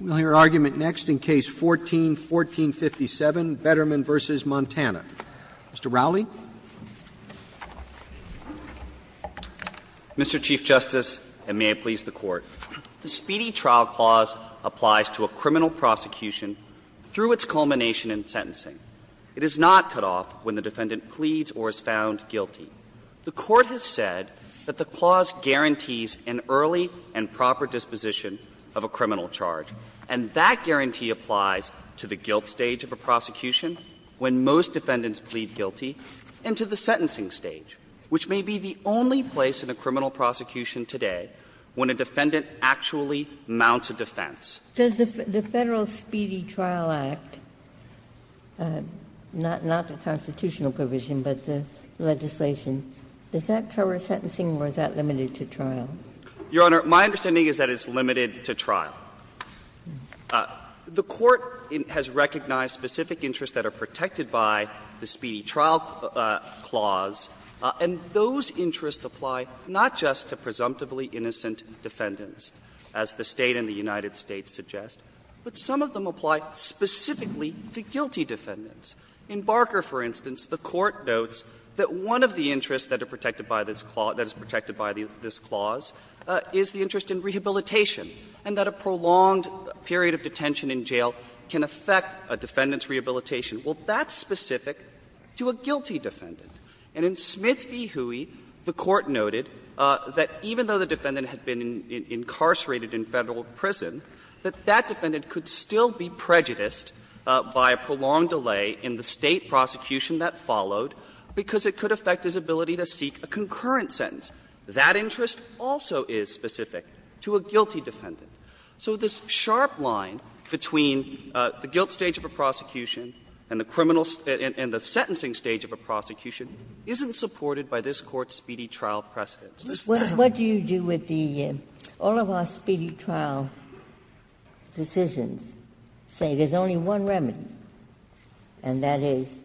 We will hear argument next in Case 14-1457, Betterman v. Montana. Mr. Rowley. Mr. Chief Justice, and may it please the Court. The Speedy Trial Clause applies to a criminal prosecution through its culmination in sentencing. It is not cut off when the defendant pleads or is found guilty. The Court has said that the clause guarantees an early and proper disposition of a criminal charge. And that guarantee applies to the guilt stage of a prosecution, when most defendants plead guilty, and to the sentencing stage, which may be the only place in a criminal prosecution today when a defendant actually mounts a defense. Ginsburg. Does the Federal Speedy Trial Act, not the constitutional provision, but the legislation, does that cover sentencing or is that limited to trial? Your Honor, my understanding is that it's limited to trial. The Court has recognized specific interests that are protected by the Speedy Trial Clause, and those interests apply not just to presumptively innocent defendants, as the State and the United States suggest, but some of them apply specifically to guilty defendants. In Barker, for instance, the Court notes that one of the interests that are protected by this clause, that is protected by this clause, is the interest in rehabilitation, and that a prolonged period of detention in jail can affect a defendant's rehabilitation. Well, that's specific to a guilty defendant. And in Smith v. Hooey, the Court noted that even though the defendant had been incarcerated in Federal prison, that that defendant could still be prejudiced by a prolonged delay in the State prosecution that followed, because it could affect his ability to seek a concurrent sentence. That interest also is specific to a guilty defendant. So this sharp line between the guilt stage of a prosecution and the criminal stage and the sentencing stage of a prosecution isn't supported by this Court's Speedy Trial precedents. Ginsburg. Ginsburg. What do you do with the all of our Speedy Trial decisions, say there's only one remedy, and that is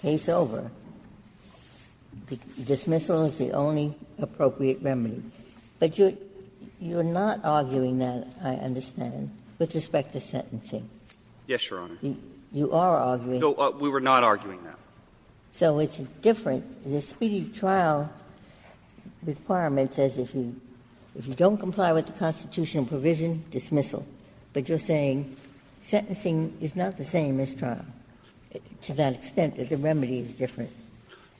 case over, dismissal is the only appropriate remedy? But you're not arguing that, I understand, with respect to sentencing. Yes, Your Honor. You are arguing. No, we were not arguing that. So it's different. The Speedy Trial requirement says if you don't comply with the constitutional provision, dismissal. But you're saying sentencing is not the same as trial, to that extent that the remedy is different.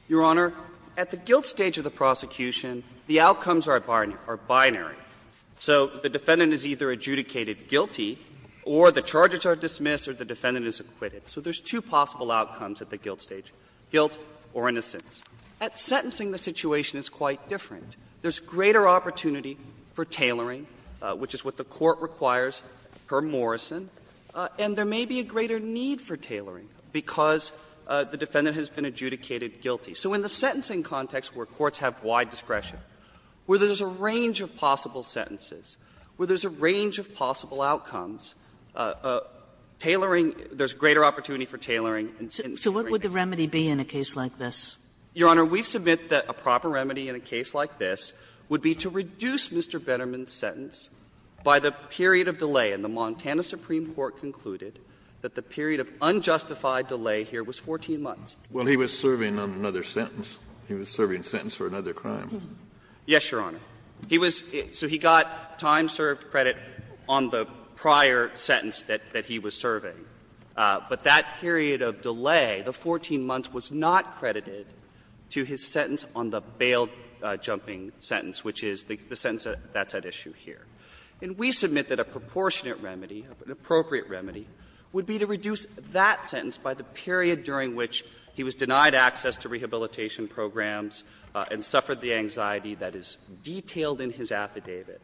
Your Honor, at the guilt stage of the prosecution, the outcomes are binary. So the defendant is either adjudicated guilty or the charges are dismissed or the defendant is acquitted. So there's two possible outcomes at the guilt stage, guilt or innocence. At sentencing, the situation is quite different. There's greater opportunity for tailoring, which is what the Court requires per Morrison, and there may be a greater need for tailoring because the defendant has been adjudicated guilty. So in the sentencing context where courts have wide discretion, where there's a range of possible sentences, where there's a range of possible outcomes, tailoring – there's greater opportunity for tailoring. So what would the remedy be in a case like this? Your Honor, we submit that a proper remedy in a case like this would be to reduce Mr. Betterman's sentence by the period of delay. And the Montana Supreme Court concluded that the period of unjustified delay here was 14 months. Kennedy. Well, he was serving on another sentence. He was serving sentence for another crime. Yes, Your Honor. He was – so he got time-served credit on the prior sentence that he was serving. But that period of delay, the 14 months, was not credited to his sentence on the bail jumping sentence, which is the sentence that's at issue here. And we submit that a proportionate remedy, an appropriate remedy, would be to reduce that sentence by the period during which he was denied access to rehabilitation programs and suffered the anxiety that is detailed in his affidavit,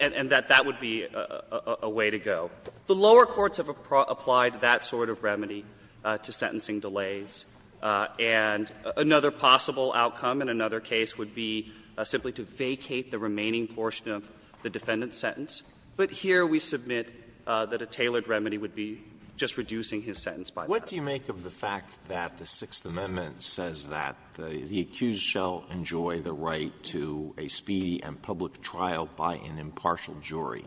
and that that would be a way to go. The lower courts have applied that sort of remedy to sentencing delays. And another possible outcome in another case would be simply to vacate the remaining portion of the defendant's sentence. But here we submit that a tailored remedy would be just reducing his sentence by that. What do you make of the fact that the Sixth Amendment says that the accused shall enjoy the right to a speedy and public trial by an impartial jury?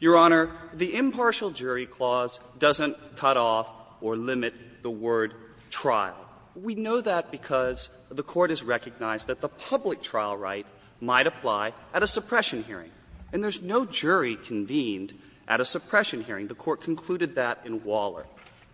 Your Honor, the impartial jury clause doesn't cut off or limit the word trial. We know that because the Court has recognized that the public trial right might apply at a suppression hearing. And there's no jury convened at a suppression hearing. The Court concluded that in Waller.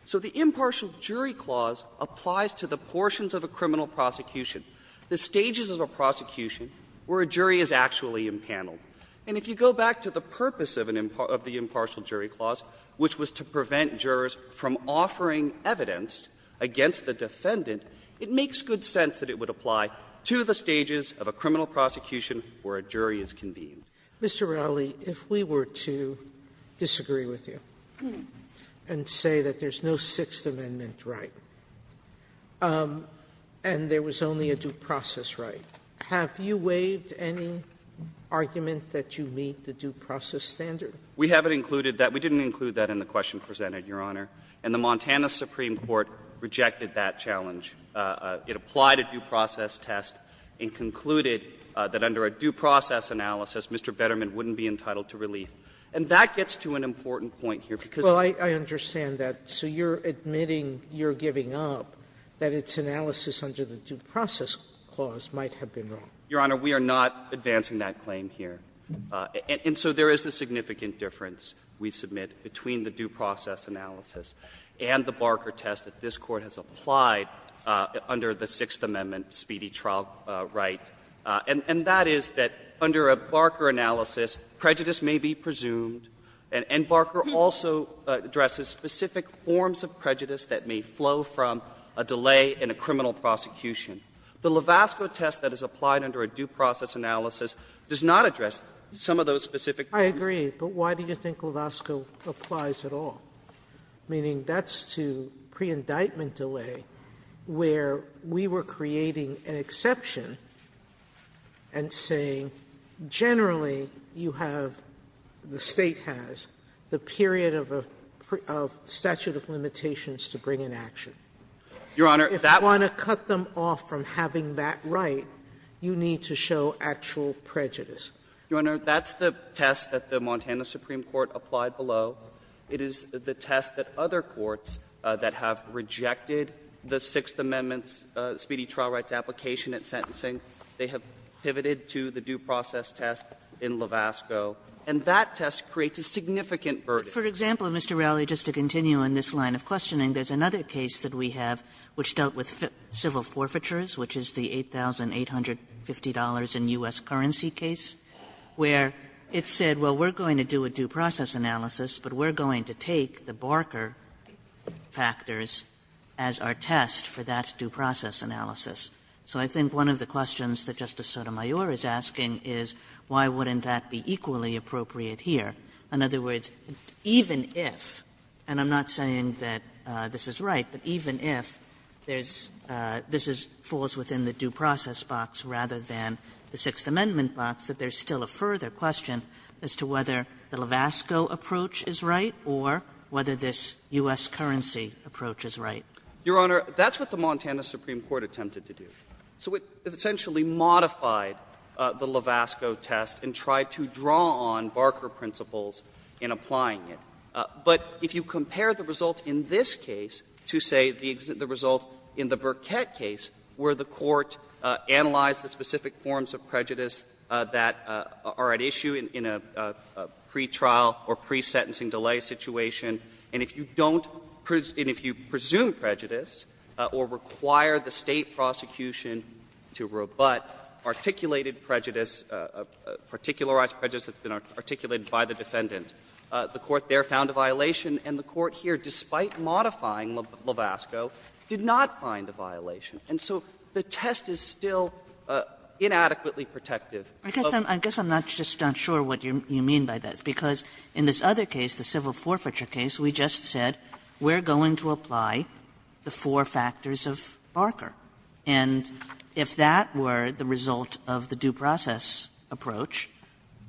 So the impartial jury clause applies to the portions of a criminal prosecution, the stages of a prosecution where a jury is actually impaneled. And if you go back to the purpose of an impartial jury clause, which was to prevent jurors from offering evidence against the defendant, it makes good sense that it would apply to the stages of a criminal prosecution where a jury is convened. Sotomayor, if we were to disagree with you and say that there's no Sixth Amendment right and there was only a due process right, have you waived any argument that you meet the due process standard? We haven't included that. We didn't include that in the question presented, Your Honor. And the Montana Supreme Court rejected that challenge. It applied a due process test and concluded that under a due process analysis, Mr. Betterman wouldn't be entitled to relief. And that gets to an important point here, because of the law. Well, I understand that. So you're admitting you're giving up that its analysis under the due process clause might have been wrong. Your Honor, we are not advancing that claim here. And so there is a significant difference, we submit, between the due process analysis and the Barker test that this Court has applied under the Sixth Amendment speedy trial right. And that is that under a Barker analysis, prejudice may be presumed, and Barker also addresses specific forms of prejudice that may flow from a delay in a criminal prosecution. The Lovasco test that is applied under a due process analysis does not address some of those specific forms. I agree. But why do you think Lovasco applies at all? Meaning that's to pre-indictment delay, where we were creating an exception and saying, generally, you have, the State has, the period of statute of limitations to bring an action. Your Honor, that's not true. If you want to cut them off from having that right, you need to show actual prejudice. Your Honor, that's the test that the Montana Supreme Court applied below. It is the test that other courts that have rejected the Sixth Amendment's speedy trial rights application at sentencing, they have pivoted to the due process test in Lovasco. And that test creates a significant burden. For example, Mr. Raleigh, just to continue on this line of questioning, there's another case that we have which dealt with civil forfeitures, which is the $8,850 in U.S. currency case, where it said, well, we're going to do a due process analysis, but we're going to take the Barker factors as our test for that due process analysis. So I think one of the questions that Justice Sotomayor is asking is why wouldn't that be equally appropriate here? In other words, even if, and I'm not saying that this is right, but even if there's this is falls within the due process box rather than the Sixth Amendment box, that there's still a further question as to whether the Lovasco approach is right or whether this U.S. currency approach is right. Your Honor, that's what the Montana Supreme Court attempted to do. So it essentially modified the Lovasco test and tried to draw on Barker principles in applying it. But if you compare the result in this case to, say, the result in the Burkett case, where the Court analyzed the specific forms of prejudice that are at issue in a pretrial or pre-sentencing delay situation, and if you don't presume prejudice or require the State prosecution to rebut articulated prejudice, particularized prejudice that's been articulated by the defendant, the Court there found a violation, and the Court here, despite modifying Lovasco, did not find a violation. And so the test is still inadequately protective. Kagan. Kagan. I guess I'm just not sure what you mean by that, because in this other case, the civil court found four factors of Barker, and if that were the result of the due process approach,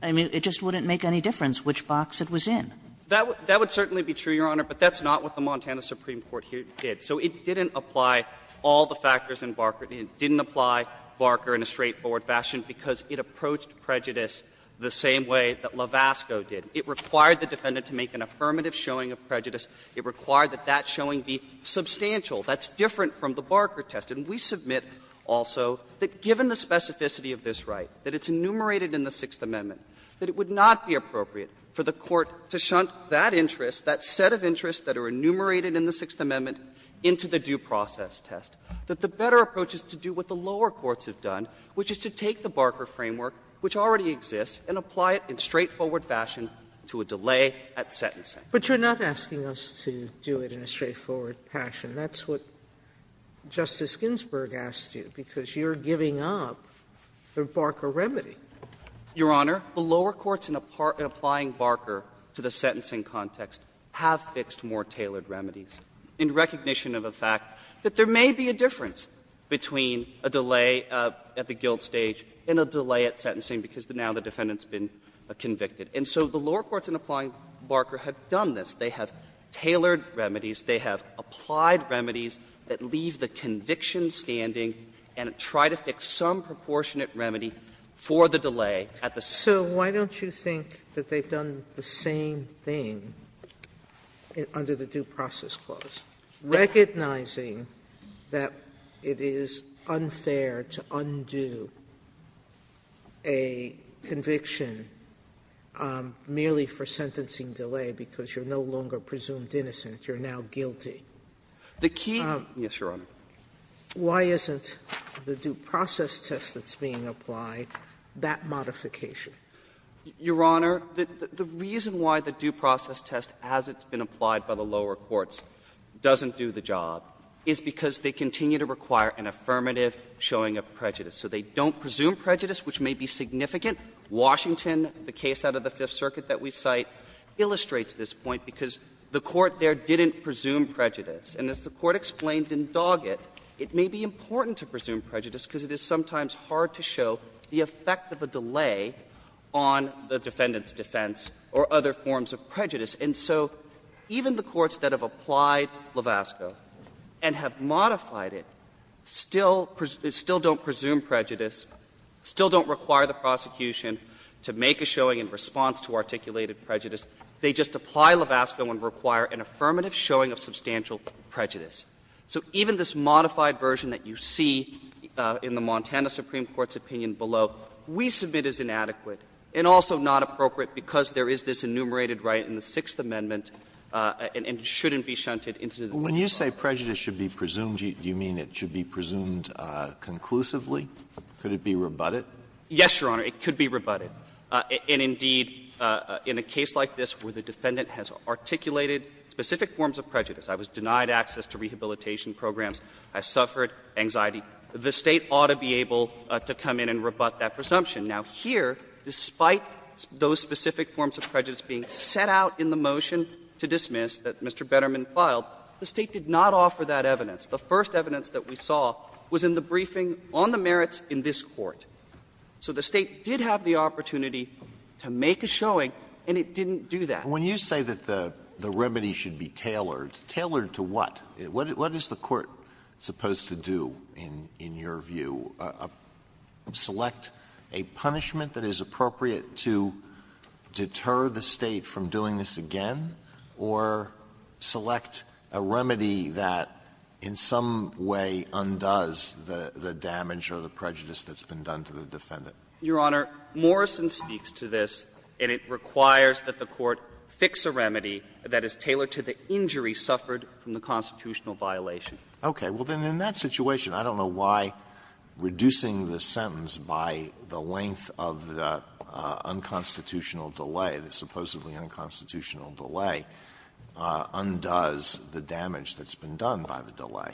I mean, it just wouldn't make any difference which box it was in. That would certainly be true, Your Honor, but that's not what the Montana Supreme Court here did. So it didn't apply all the factors in Barker. It didn't apply Barker in a straightforward fashion because it approached prejudice the same way that Lovasco did. It required the defendant to make an affirmative showing of prejudice. It required that that showing be substantial. That's different from the Barker test. And we submit also that given the specificity of this right, that it's enumerated in the Sixth Amendment, that it would not be appropriate for the Court to shunt that interest, that set of interests that are enumerated in the Sixth Amendment into the due process test, that the better approach is to do what the lower courts have done, which is to take the Barker framework, which already exists, and apply it in straightforward fashion to a delay at sentencing. Sotomayor, but you're not asking us to do it in a straightforward fashion. That's what Justice Ginsburg asked you, because you're giving up the Barker remedy. Your Honor, the lower courts in applying Barker to the sentencing context have fixed more tailored remedies in recognition of the fact that there may be a difference between a delay at the guilt stage and a delay at sentencing because now the defendant has been convicted. And so the lower courts in applying Barker have done this. They have tailored remedies. They have applied remedies that leave the conviction standing and try to fix some proportionate remedy for the delay at the sentencing. Sotomayor, so why don't you think that they've done the same thing under the Due Process Clause, recognizing that it is unfair to undo a conviction merely for sentencing delay because you're no longer presumed innocent, you're now guilty? The key to this, Your Honor. Why isn't the Due Process test that's being applied that modification? Your Honor, the reason why the Due Process test, as it's been applied by the lower courts, doesn't do the job is because they continue to require an affirmative showing of prejudice. So they don't presume prejudice, which may be significant. Washington, the case out of the Fifth Circuit that we cite, illustrates this point because the court there didn't presume prejudice. And as the Court explained in Doggett, it may be important to presume prejudice because it is sometimes hard to show the effect of a delay on the defendant's defense or other forms of prejudice. And so even the courts that have applied Lovasco and have modified it still don't presume prejudice, still don't require the prosecution to make a showing in response to articulated prejudice, they just apply Lovasco and require an affirmative showing of substantial prejudice. So even this modified version that you see in the Montana Supreme Court's opinion below, we submit as inadequate and also not appropriate because there is this enumerated right in the Sixth Amendment and it shouldn't be shunted into the court of law. Alitoso, when you say prejudice should be presumed, do you mean it should be presumed conclusively? Could it be rebutted? Yes, Your Honor, it could be rebutted. And indeed, in a case like this where the defendant has articulated specific forms of prejudice, I was denied access to rehabilitation programs, I suffered anxiety, the State ought to be able to come in and rebut that presumption. Now, here, despite those specific forms of prejudice being set out in the motion to dismiss that Mr. Betterman filed, the State did not offer that evidence. The first evidence that we saw was in the briefing on the merits in this Court. So the State did have the opportunity to make a showing and it didn't do that. Alitoso, when you say that the remedy should be tailored, tailored to what? What is the Court supposed to do, in your view? Select a punishment that is appropriate to deter the State from doing this again, or select a remedy that in some way undoes the damage or the prejudice that's been done to the defendant? Your Honor, Morrison speaks to this, and it requires that the Court fix a remedy that is tailored to the injury suffered from the constitutional violation. Okay. Well, then, in that situation, I don't know why reducing the sentence by the length of the unconstitutional delay, the supposedly unconstitutional delay, undoes the damage that's been done by the delay.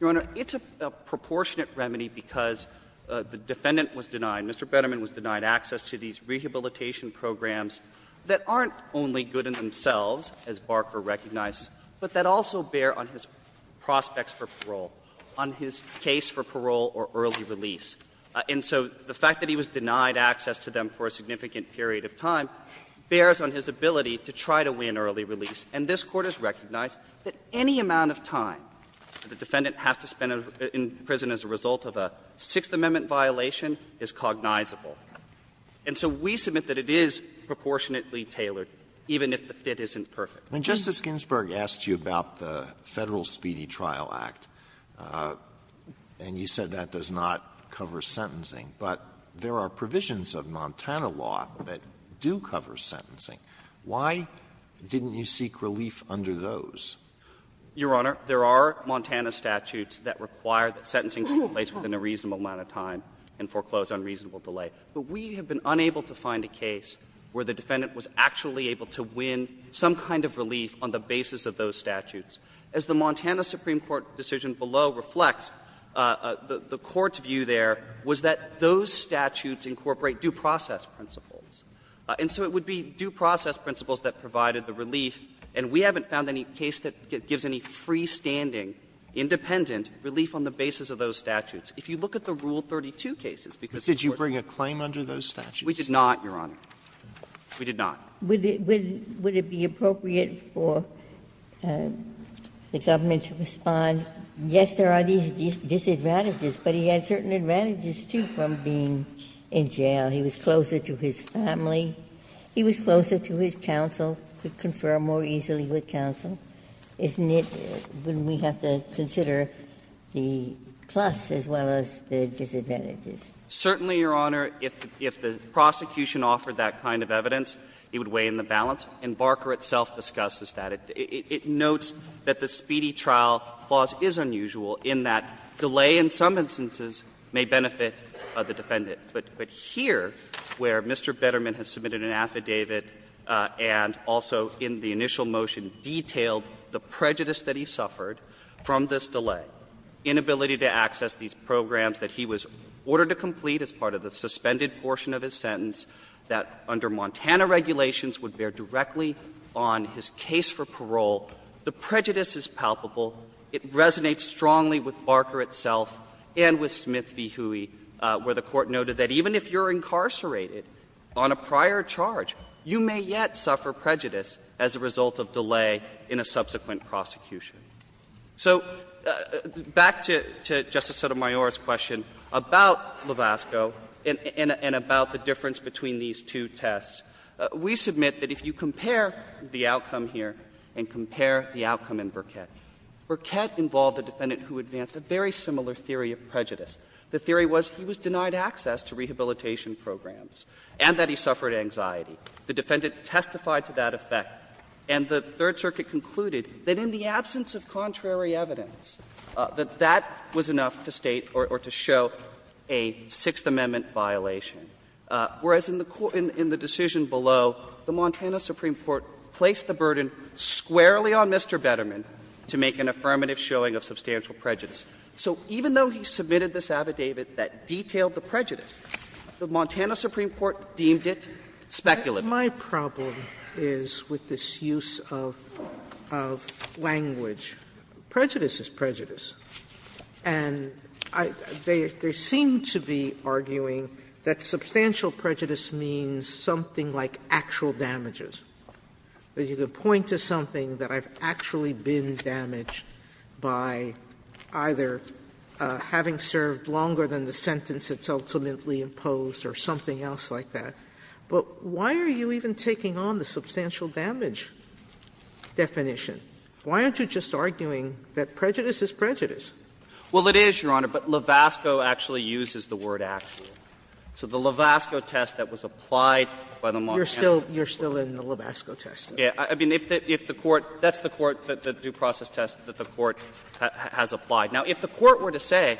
Your Honor, it's a proportionate remedy because the defendant was denied, Mr. Betterman was denied access to these rehabilitation programs that aren't only good in themselves, as Barker recognized, but that also bear on his prospects for parole, on his case for parole or early release. And so the fact that he was denied access to them for a significant period of time bears on his ability to try to win early release. And this Court has recognized that any amount of time that the defendant has to spend in prison as a result of a Sixth Amendment violation is cognizable. And so we submit that it is proportionately tailored, even if the fit isn't perfect. Alito, Justice Ginsburg asked you about the Federal Speedy Trial Act, and you said that does not cover sentencing, but there are provisions of Montana law that do cover sentencing. Why didn't you seek relief under those? Your Honor, there are Montana statutes that require that sentencing take place within a reasonable amount of time and foreclose on reasonable delay. But we have been unable to find a case where the defendant was actually able to win some kind of relief on the basis of those statutes. As the Montana Supreme Court decision below reflects, the Court's view there was that those statutes incorporate due process principles. And so it would be due process principles that provided the relief, and we haven't found any case that gives any freestanding, independent relief on the basis of those statutes. If you look at the Rule 32 cases, because the Court's view is that it's not a matter of the statute. Roberts, did you bring a claim under those statutes? We did not, Your Honor. We did not. Ginsburg, would it be appropriate for the government to respond, yes, there are these disadvantages, but he had certain advantages, too, from being in jail. He was closer to his family. He was closer to his counsel, could confer more easily with counsel. Isn't it, wouldn't we have to consider the plus as well as the disadvantages? Certainly, Your Honor, if the prosecution offered that kind of evidence, it would weigh in the balance, and Barker itself discusses that. It notes that the Speedy Trial Clause is unusual in that delay in some instances may benefit the defendant. But here, where Mr. Betterman has submitted an affidavit and also in the initial motion detailed the prejudice that he suffered from this delay, inability to access these programs that he was ordered to complete as part of the suspended portion of his sentence that under Montana regulations would bear directly on his case for parole, the prejudice is palpable. It resonates strongly with Barker itself and with Smith v. Huey, where the Court noted that even if you're incarcerated on a prior charge, you may yet suffer prejudice as a result of delay in a subsequent prosecution. So back to Justice Sotomayor's question about Lovasco and about the difference between these two tests, we submit that if you compare the outcome here and compare the outcome in Burkett, Burkett involved a defendant who advanced a very similar theory of prejudice. The theory was he was denied access to rehabilitation programs and that he suffered anxiety. The defendant testified to that effect, and the Third Circuit concluded that in the absence of contrary evidence, that that was enough to state or to show a Sixth Amendment violation. Whereas in the decision below, the Montana Supreme Court placed the burden squarely on Mr. Betterman to make an affirmative showing of substantial prejudice. So even though he submitted this affidavit that detailed the prejudice, the Montana Supreme Court deemed it speculative. Sotomayor, my problem is with this use of language. Prejudice is prejudice. And they seem to be arguing that substantial prejudice means something like actual damages, that you could point to something that I've actually been damaged by either having served longer than the sentence that's ultimately imposed or something else like that. But why are you even taking on the substantial damage definition? Why aren't you just arguing that prejudice is prejudice? Well, it is, Your Honor, but Levasco actually uses the word actual. So the Levasco test that was applied by the Montana Supreme Court. You're still in the Levasco test. Yeah. I mean, if the court – that's the court, the due process test that the court has applied. Now, if the court were to say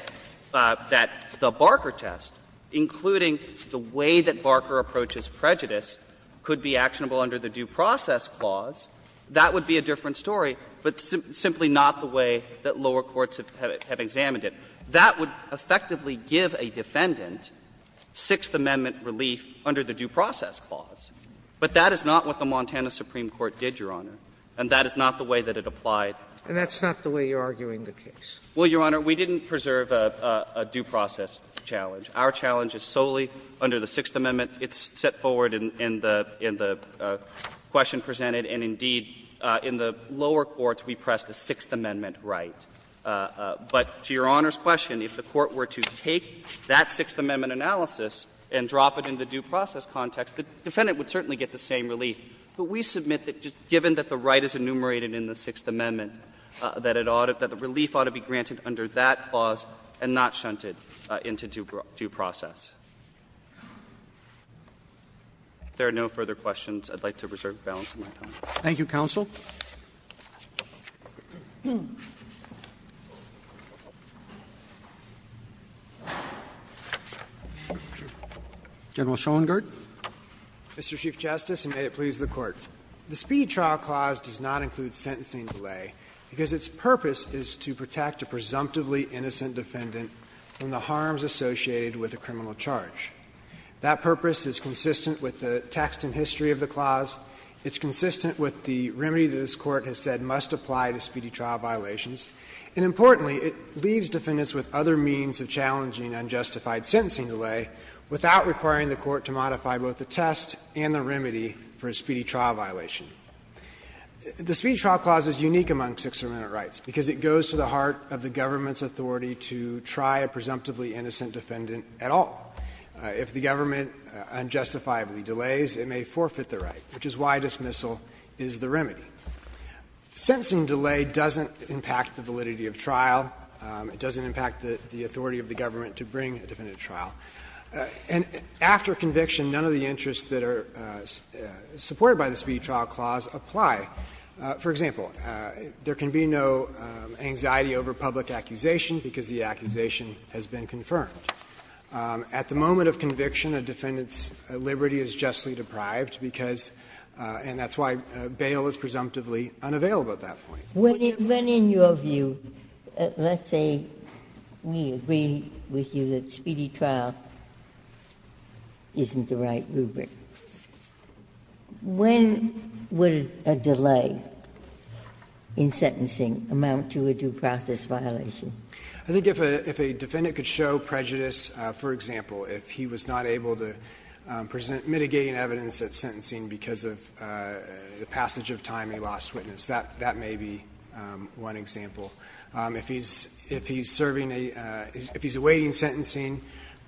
that the Barker test, including the way that Barker approaches prejudice, could be actionable under the due process clause, that would be a different story, but simply not the way that lower courts have examined it. That would effectively give a defendant Sixth Amendment relief under the due process clause. But that is not what the Montana Supreme Court did, Your Honor, and that is not the way that it applied. And that's not the way you're arguing the case. Well, Your Honor, we didn't preserve a due process challenge. Our challenge is solely under the Sixth Amendment. It's set forward in the question presented, and indeed, in the lower courts, we pressed a Sixth Amendment right. But to Your Honor's question, if the court were to take that Sixth Amendment analysis and drop it in the due process context, the defendant would certainly get the same relief. But we submit that just given that the right is enumerated in the Sixth Amendment, that it ought to be the relief ought to be granted under that clause and not shunted into due process. If there are no further questions, I'd like to preserve balance of my time. Roberts. Thank you, counsel. General Schoengart. Mr. Chief Justice, and may it please the Court. The Speedy Trial Clause does not include sentencing delay because its purpose is to protect a presumptively innocent defendant from the harms associated with a criminal charge. That purpose is consistent with the text and history of the clause. It's consistent with the remedy that this Court has said must apply to speedy trial violations. And importantly, it leaves defendants with other means of challenging unjustified The Speedy Trial Clause is unique among Sixth Amendment rights because it goes to the heart of the government's authority to try a presumptively innocent defendant at all. If the government unjustifiably delays, it may forfeit the right, which is why dismissal is the remedy. Sentencing delay doesn't impact the validity of trial. It doesn't impact the authority of the government to bring a defendant to trial. And after conviction, none of the interests that are supported by the Speedy Trial Clause apply. For example, there can be no anxiety over public accusation because the accusation has been confirmed. At the moment of conviction, a defendant's liberty is justly deprived because and that's why bail is presumptively unavailable at that point. Ginsburg. When in your view, let's say we agree with you that speedy trial isn't the right rubric, when would a delay in sentencing amount to a due process violation? I think if a defendant could show prejudice, for example, if he was not able to present mitigating evidence at sentencing because of the passage of time he lost witness, that may be one example. If he's serving a – if he's awaiting sentencing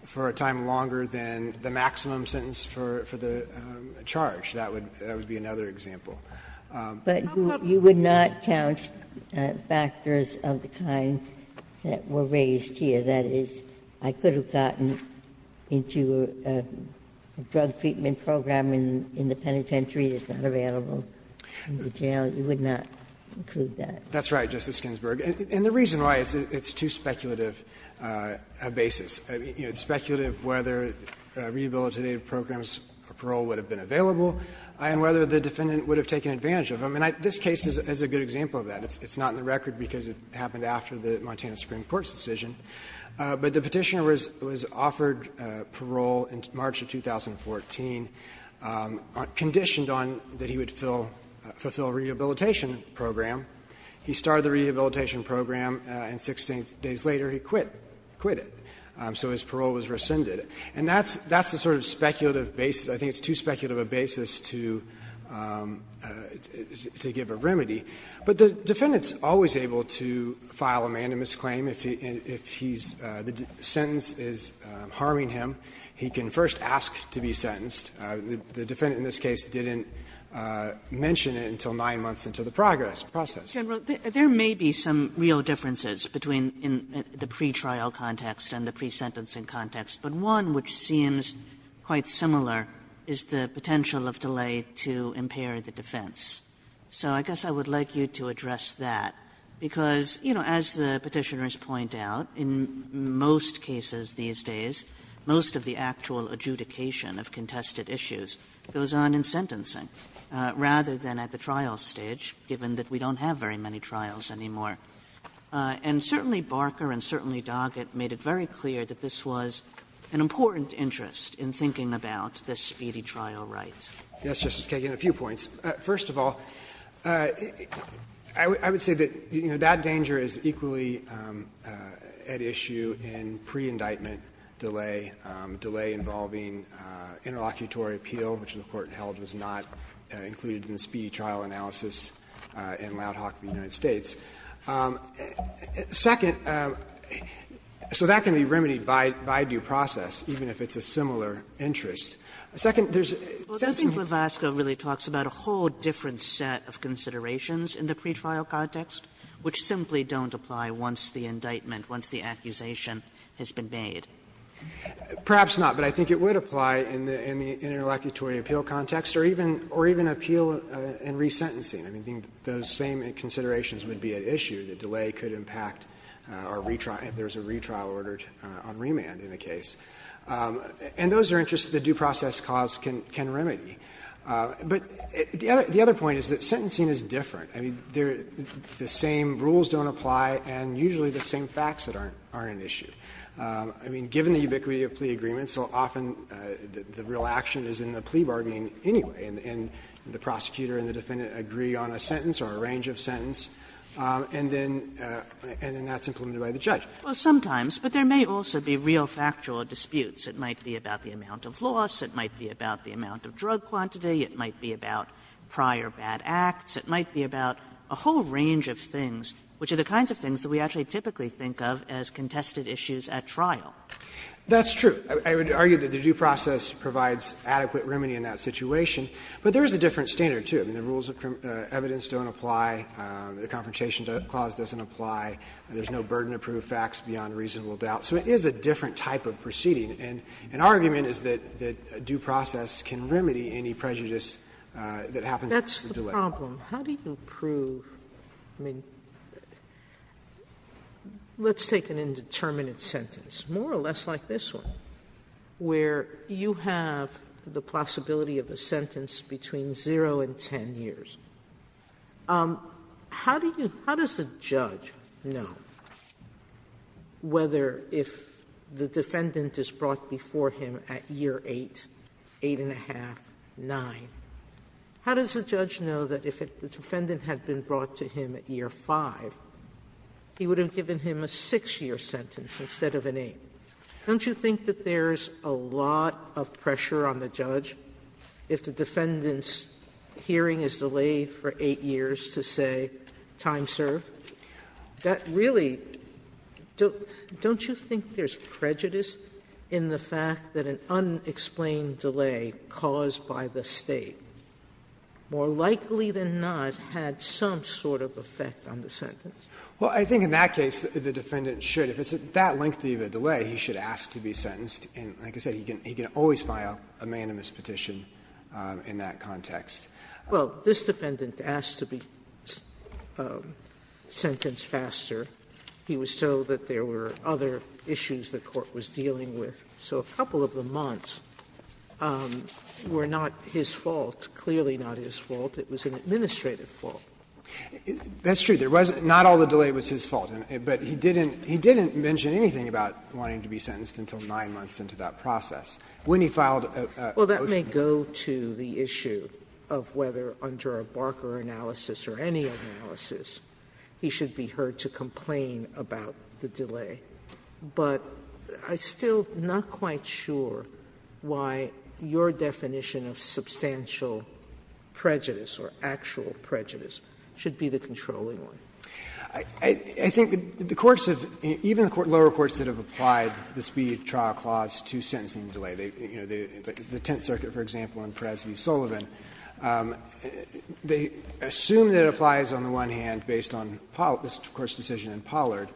for a time longer than the maximum sentence for the charge, that would be another example. But you would not count factors of the kind that were raised here. That is, I could have gotten into a drug treatment program in the penitentiary. It's not available in the jail. You would not include that. That's right, Justice Ginsburg. And the reason why, it's too speculative a basis. It's speculative whether rehabilitative programs or parole would have been available and whether the defendant would have taken advantage of them. And this case is a good example of that. It's not in the record because it happened after the Montana Supreme Court's decision. But the Petitioner was offered parole in March of 2014, conditioned on that he would fulfill a rehabilitation program. He started the rehabilitation program, and 16 days later he quit it. So his parole was rescinded. And that's the sort of speculative basis. I think it's too speculative a basis to give a remedy. But the defendant is always able to file a mandamus claim if he's – the sentence is harming him. He can first ask to be sentenced. The defendant in this case didn't mention it until nine months into the progress process. Kagan, there may be some real differences between the pretrial context and the pre-sentencing context, but one which seems quite similar is the potential of delay to impair the defense. So I guess I would like you to address that, because, you know, as the Petitioners point out, in most cases these days, most of the actual adjudication of contested issues goes on in sentencing, rather than at the trial stage, given that we don't have very many trials anymore. And certainly Barker and certainly Doggett made it very clear that this was an important interest in thinking about the speedy trial right. Bursch, Yes, Justice Kagan, a few points. First of all, I would say that, you know, that danger is equally at issue in pre-indictment delay, delay involving interlocutory appeal, which the Court held was not included in the speedy trial analysis in Loud Hawk v. United States. Second, so that can be remedied by due process, even if it's a similar interest. Second, there's a sense of Kagan, I think Levasco really talks about a whole different set of considerations in the pretrial context, which simply don't apply once the indictment, once the accusation has been made. Bursch, Perhaps not, but I think it would apply in the interlocutory appeal context, or even appeal in resentencing. I think those same considerations would be at issue. The delay could impact our retrial, if there's a retrial ordered on remand in a case. And those are interests that due process cause can remedy. But the other point is that sentencing is different. I mean, the same rules don't apply, and usually the same facts that aren't an issue. I mean, given the ubiquity of plea agreements, often the real action is in the plea bargaining anyway, and the prosecutor and the defendant agree on a sentence or a range of sentence, and then that's implemented by the judge. Kagan Well, sometimes, but there may also be real factual disputes. It might be about the amount of loss, it might be about the amount of drug quantity, it might be about prior bad acts, it might be about a whole range of things, which are the kinds of things that we actually typically think of as contested issues Burschel That's true. I would argue that the due process provides adequate remedy in that situation. But there is a different standard, too. I mean, the rules of evidence don't apply, the Confrontation Clause doesn't apply, there's no burden to prove facts beyond reasonable doubt. So it is a different type of proceeding, and our argument is that due process can remedy any prejudice that happens with the delay. Sotomayor My problem, how do you prove, I mean, let's take an indeterminate sentence, more or less like this one, where you have the possibility of a sentence between 0 and 10 years. How do you, how does the judge know whether if the defendant is brought before him at year 8, 8½, 9, how does the judge know that if the defendant had been brought to him at year 5, he would have given him a 6-year sentence instead of an 8? Don't you think that there's a lot of pressure on the judge if the defendant's hearing is delayed for 8 years to say, time served? That really, don't you think there's prejudice in the fact that an unexplained delay caused by the State, more likely than not, had some sort of effect on the sentence? Burschel, Well, I think in that case, the defendant should, if it's that lengthy of a delay, he should ask to be sentenced. And like I said, he can always file a unanimous petition in that context. Sotomayor, Well, this defendant asked to be sentenced faster. He was told that there were other issues the court was dealing with. So a couple of the months were not his fault, clearly not his fault. It was an administrative fault. Burschel, That's true. There was not all the delay was his fault. But he didn't mention anything about wanting to be sentenced until 9 months into that process. When he filed a motion to do that. Sotomayor, I don't think there's any issue of whether, under a Barker analysis or any analysis, he should be heard to complain about the delay. But I'm still not quite sure why your definition of substantial prejudice or actual prejudice should be the controlling one. Burschel, I think the courts have, even the lower courts that have applied the speed of trial clause to sentencing delay, you know, the Tenth Circuit, for example, and Perez v. Sullivan, they assume that it applies on the one hand based on this, of course, decision in Pollard.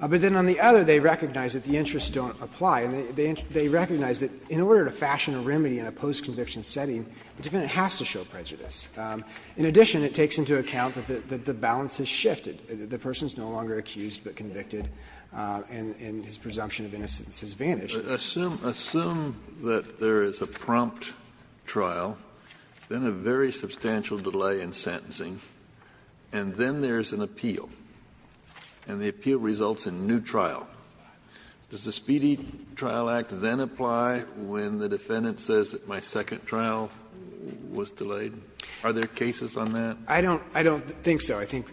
But then on the other, they recognize that the interests don't apply. And they recognize that in order to fashion a remedy in a post-conviction setting, the defendant has to show prejudice. In addition, it takes into account that the balance has shifted. The person is no longer accused but convicted, and his presumption of innocence has vanished. Kennedy, assume that there is a prompt trial, then a very substantial delay in sentencing, and then there's an appeal, and the appeal results in new trial. Does the Speedy Trial Act then apply when the defendant says that my second trial was delayed? Are there cases on that? Burschel, I don't think so. I think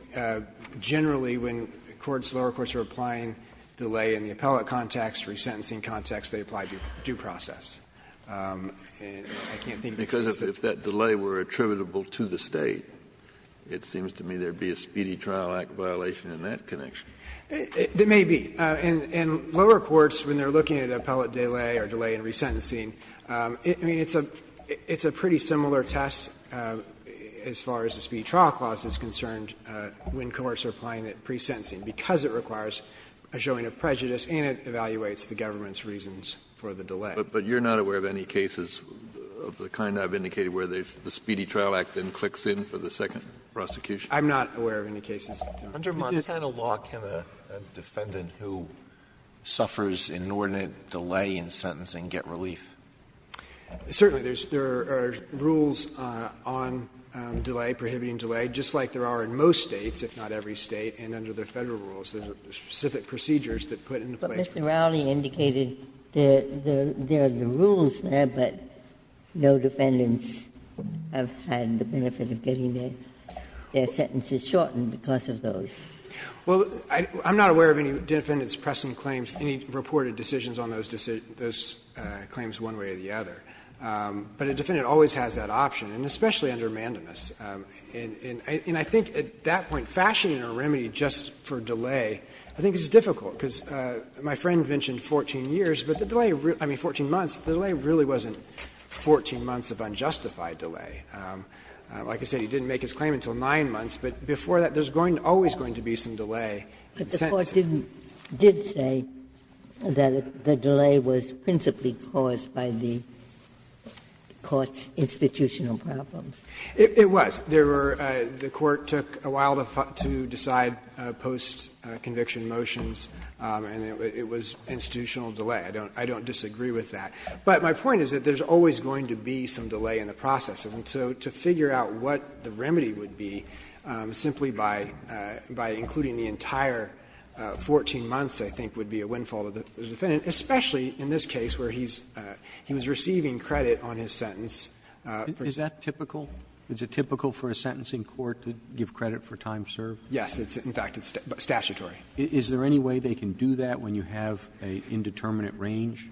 generally when courts, the lower courts, are applying delay in the appellate context, resentencing context, they apply due process. And I can't think of cases that don't. Kennedy, because if that delay were attributable to the State, it seems to me there would be a Speedy Trial Act violation in that connection. Burschel, it may be. And lower courts, when they're looking at appellate delay or delay in resentencing, I mean, it's a pretty similar test as far as the Speedy Trial Clause is concerned when courts are applying it pre-sentencing, because it requires a showing of prejudice and it evaluates the government's reasons for the delay. Kennedy, but you're not aware of any cases of the kind I've indicated where the Speedy Trial Act then clicks in for the second prosecution? Burschel, I'm not aware of any cases. Alito, under Montana law, can a defendant who suffers inordinate delay in sentencing get relief? Burschel, certainly. There are rules on delay, prohibiting delay, just like there are in most States, if not every State, and under the Federal rules. There are specific procedures that put into place. Ginsburg, but Mr. Rowley indicated there are the rules there, but no defendants have had the benefit of getting their sentences shortened because of those. Burschel, well, I'm not aware of any defendant's pressing claims, any reported decisions on those claims one way or the other. But a defendant always has that option, and especially under Mandamus. And I think at that point, fashioning a remedy just for delay, I think is difficult, because my friend mentioned 14 years, but the delay, I mean, 14 months, the delay really wasn't 14 months of unjustified delay. Like I said, he didn't make his claim until 9 months, but before that, there's always going to be some delay in sentencing. Ginsburg, but the Court didn't say that the delay was principally caused by the Court's institutional problems. Burschel, it was. There were the Court took a while to decide post-conviction motions, and it was institutional delay. I don't disagree with that. But my point is that there's always going to be some delay in the process. And so to figure out what the remedy would be simply by including the entire 14 months, I think would be a windfall to the defendant, especially in this case where he's receiving credit on his sentence. Roberts Is that typical? Is it typical for a sentencing court to give credit for time served? Burschel, Yes. In fact, it's statutory. Roberts Is there any way they can do that when you have an indeterminate range,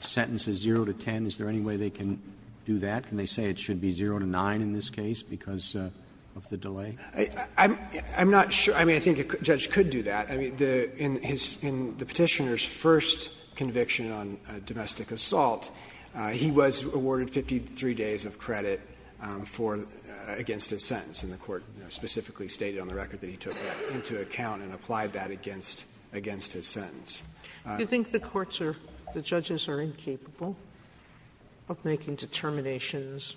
sentences zero to 10? Is there any way they can do that? Can they say it should be zero to nine in this case because of the delay? Burschel, I'm not sure. I mean, I think a judge could do that. I mean, in his the Petitioner's first conviction on domestic assault, he was awarded 53 days of credit for the sentence. And the Court specifically stated on the record that he took that into account and applied that against his sentence. Sotomayor Do you think the courts are, the judges are incapable of making determinations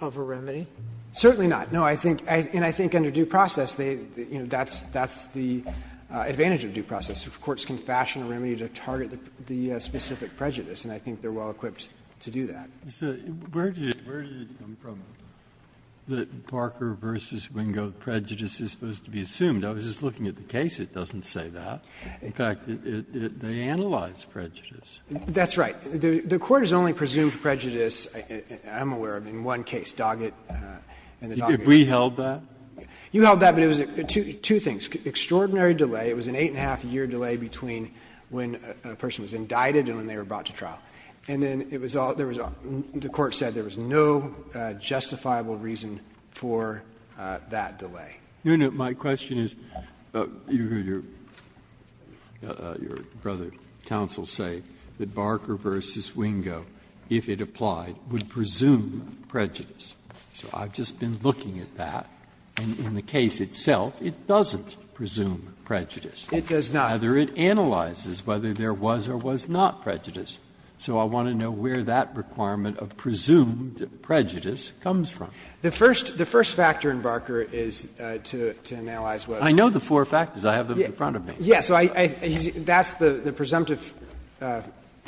of a remedy? Burschel, Certainly not. No, I think, and I think under due process, that's the advantage of due process. Courts can fashion a remedy to target the specific prejudice, and I think they're well equipped to do that. Breyer Where did it come from that Parker v. Wingo prejudice is supposed to be assumed? I was just looking at the case. It doesn't say that. In fact, they analyze prejudice. Burschel, That's right. The Court has only presumed prejudice, I'm aware of, in one case, Doggett and the Doggett case. Breyer We held that? Burschel, You held that, but it was two things. Extraordinary delay. It was an eight-and-a-half-year delay between when a person was indicted and when they were brought to trial. And then it was all the court said, there was no justifiable reason for that delay. Breyer No, no. My question is, your brother counsel say that Barker v. Wingo, if it applied, would presume prejudice. So I've just been looking at that. And in the case itself, it doesn't presume prejudice. Burschel, It does not. Breyer So I want to know where that requirement of presumed prejudice comes from. Burschel, The first factor in Barker is to analyze whether. Breyer I know the four factors. I have them in front of me. Burschel, Yes. That's the presumptive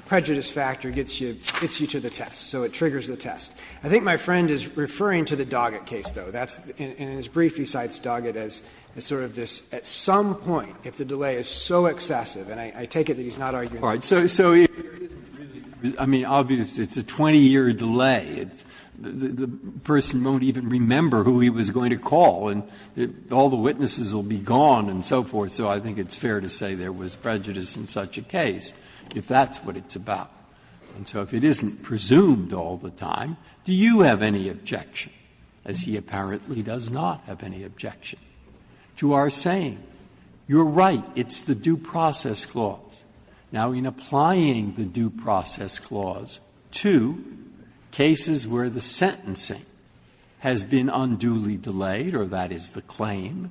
prejudice factor gets you to the test. So it triggers the test. I think my friend is referring to the Doggett case, though. In his brief, he cites Doggett as sort of this, at some point, if the delay is so excessive, and I take it that he's not arguing that. Breyer So, I mean, obviously, it's a 20-year delay. The person won't even remember who he was going to call, and all the witnesses will be gone and so forth. So I think it's fair to say there was prejudice in such a case, if that's what it's about. And so if it isn't presumed all the time, do you have any objection, as he apparently does not have any objection, to our saying, you're right, it's the due process clause? Now, in applying the due process clause to cases where the sentencing has been unduly delayed, or that is the claim,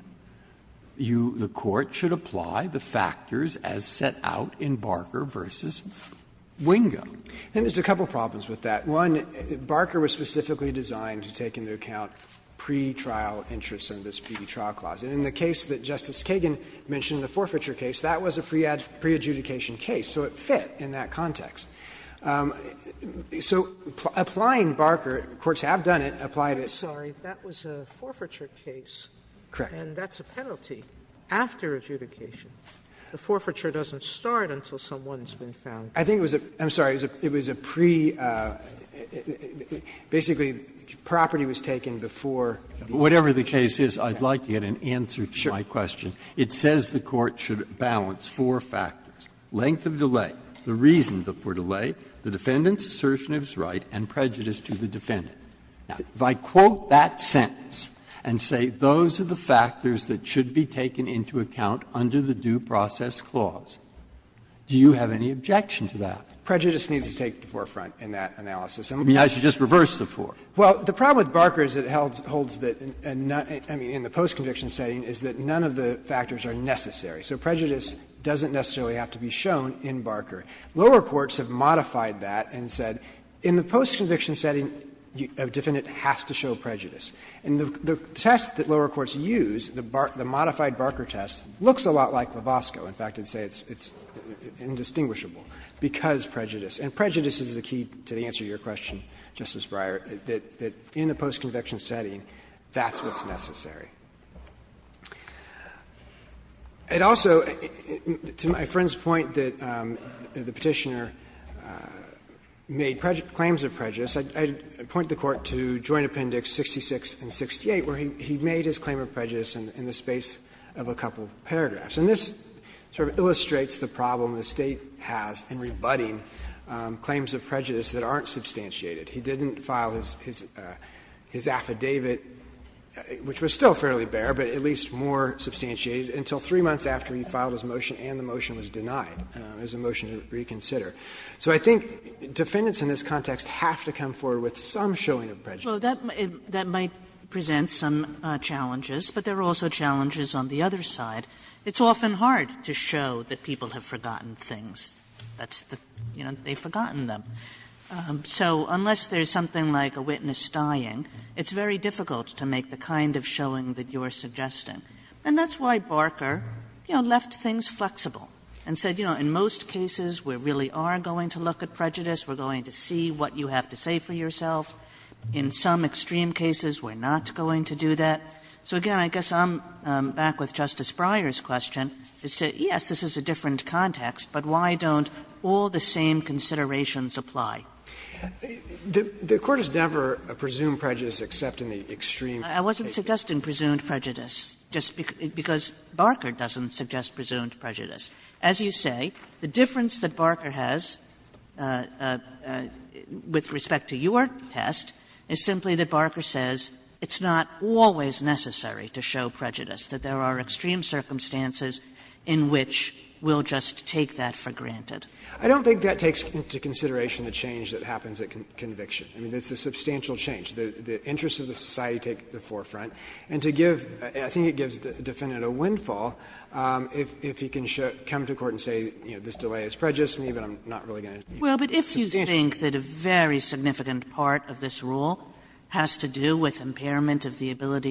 you, the Court, should apply the factors as set out in Barker v. Wingo. Burschel, I think there's a couple of problems with that. One, Barker was specifically designed to take into account pretrial interests in this pretrial clause. And in the case that Justice Kagan mentioned, the forfeiture case, that was a preadjudicated adjudication case, so it fit in that context. So applying Barker, courts have done it, applied it. Sotomayor, I'm sorry, that was a forfeiture case, and that's a penalty after adjudication. The forfeiture doesn't start until someone's been found guilty. I think it was a pre-basically property was taken before the adjudication. Breyer, whatever the case is, I'd like to get an answer to my question. It says the Court should balance four factors. Length of delay, the reason for delay, the defendant's assertion of his right, and prejudice to the defendant. Now, if I quote that sentence and say those are the factors that should be taken into account under the due process clause, do you have any objection to that? Burschel, prejudice needs to take the forefront in that analysis. Breyer, I mean, I should just reverse the four. Burschel, well, the problem with Barker is that it holds that, I mean, in the post-conviction setting is that none of the factors are necessary. So prejudice doesn't necessarily have to be shown in Barker. Lower courts have modified that and said in the post-conviction setting, a defendant has to show prejudice. And the test that lower courts use, the modified Barker test, looks a lot like Labosco. In fact, I'd say it's indistinguishable, because prejudice. And prejudice is the key to the answer to your question, Justice Breyer, that in a post-conviction setting, that's what's necessary. It also, to my friend's point that the Petitioner made claims of prejudice, I'd point the Court to Joint Appendix 66 and 68, where he made his claim of prejudice in the space of a couple of paragraphs. And this sort of illustrates the problem the State has in rebutting claims of prejudice that aren't substantiated. He didn't file his affidavit, which was still fairly bare, but at least more substantiated, until three months after he filed his motion and the motion was denied as a motion to reconsider. So I think defendants in this context have to come forward with some showing of prejudice. Kagan in that might present some challenges, but there are also challenges on the other side. It's often hard to show that people have forgotten things. That's the, you know, they've forgotten them. So unless there's something like a witness dying, it's very difficult to make the kind of showing that you're suggesting. And that's why Barker, you know, left things flexible and said, you know, in most cases we really are going to look at prejudice, we're going to see what you have to say for yourself. In some extreme cases we're not going to do that. So, again, I guess I'm back with Justice Breyer's question, to say, yes, this is a case in which extreme considerations apply. The Court has never presumed prejudice except in the extreme cases. I wasn't suggesting presumed prejudice, just because Barker doesn't suggest presumed prejudice. As you say, the difference that Barker has with respect to your test is simply that Barker says it's not always necessary to show prejudice, that there are extreme circumstances in which we'll just take that for granted. I don't think that takes into consideration the change that happens at conviction. I mean, it's a substantial change. The interests of the society take the forefront. And to give the defendant a windfall, if he can come to court and say, you know, this delay is prejudice, maybe I'm not really going to do it. Kagan. Kagan. Kagan. Kagan. Kagan. Kagan. Kagan. Kagan. Kagan. Kagan. Kagan. Kagan. Kagan. Kagan. And I think that because the act bodies won't look like they do every day as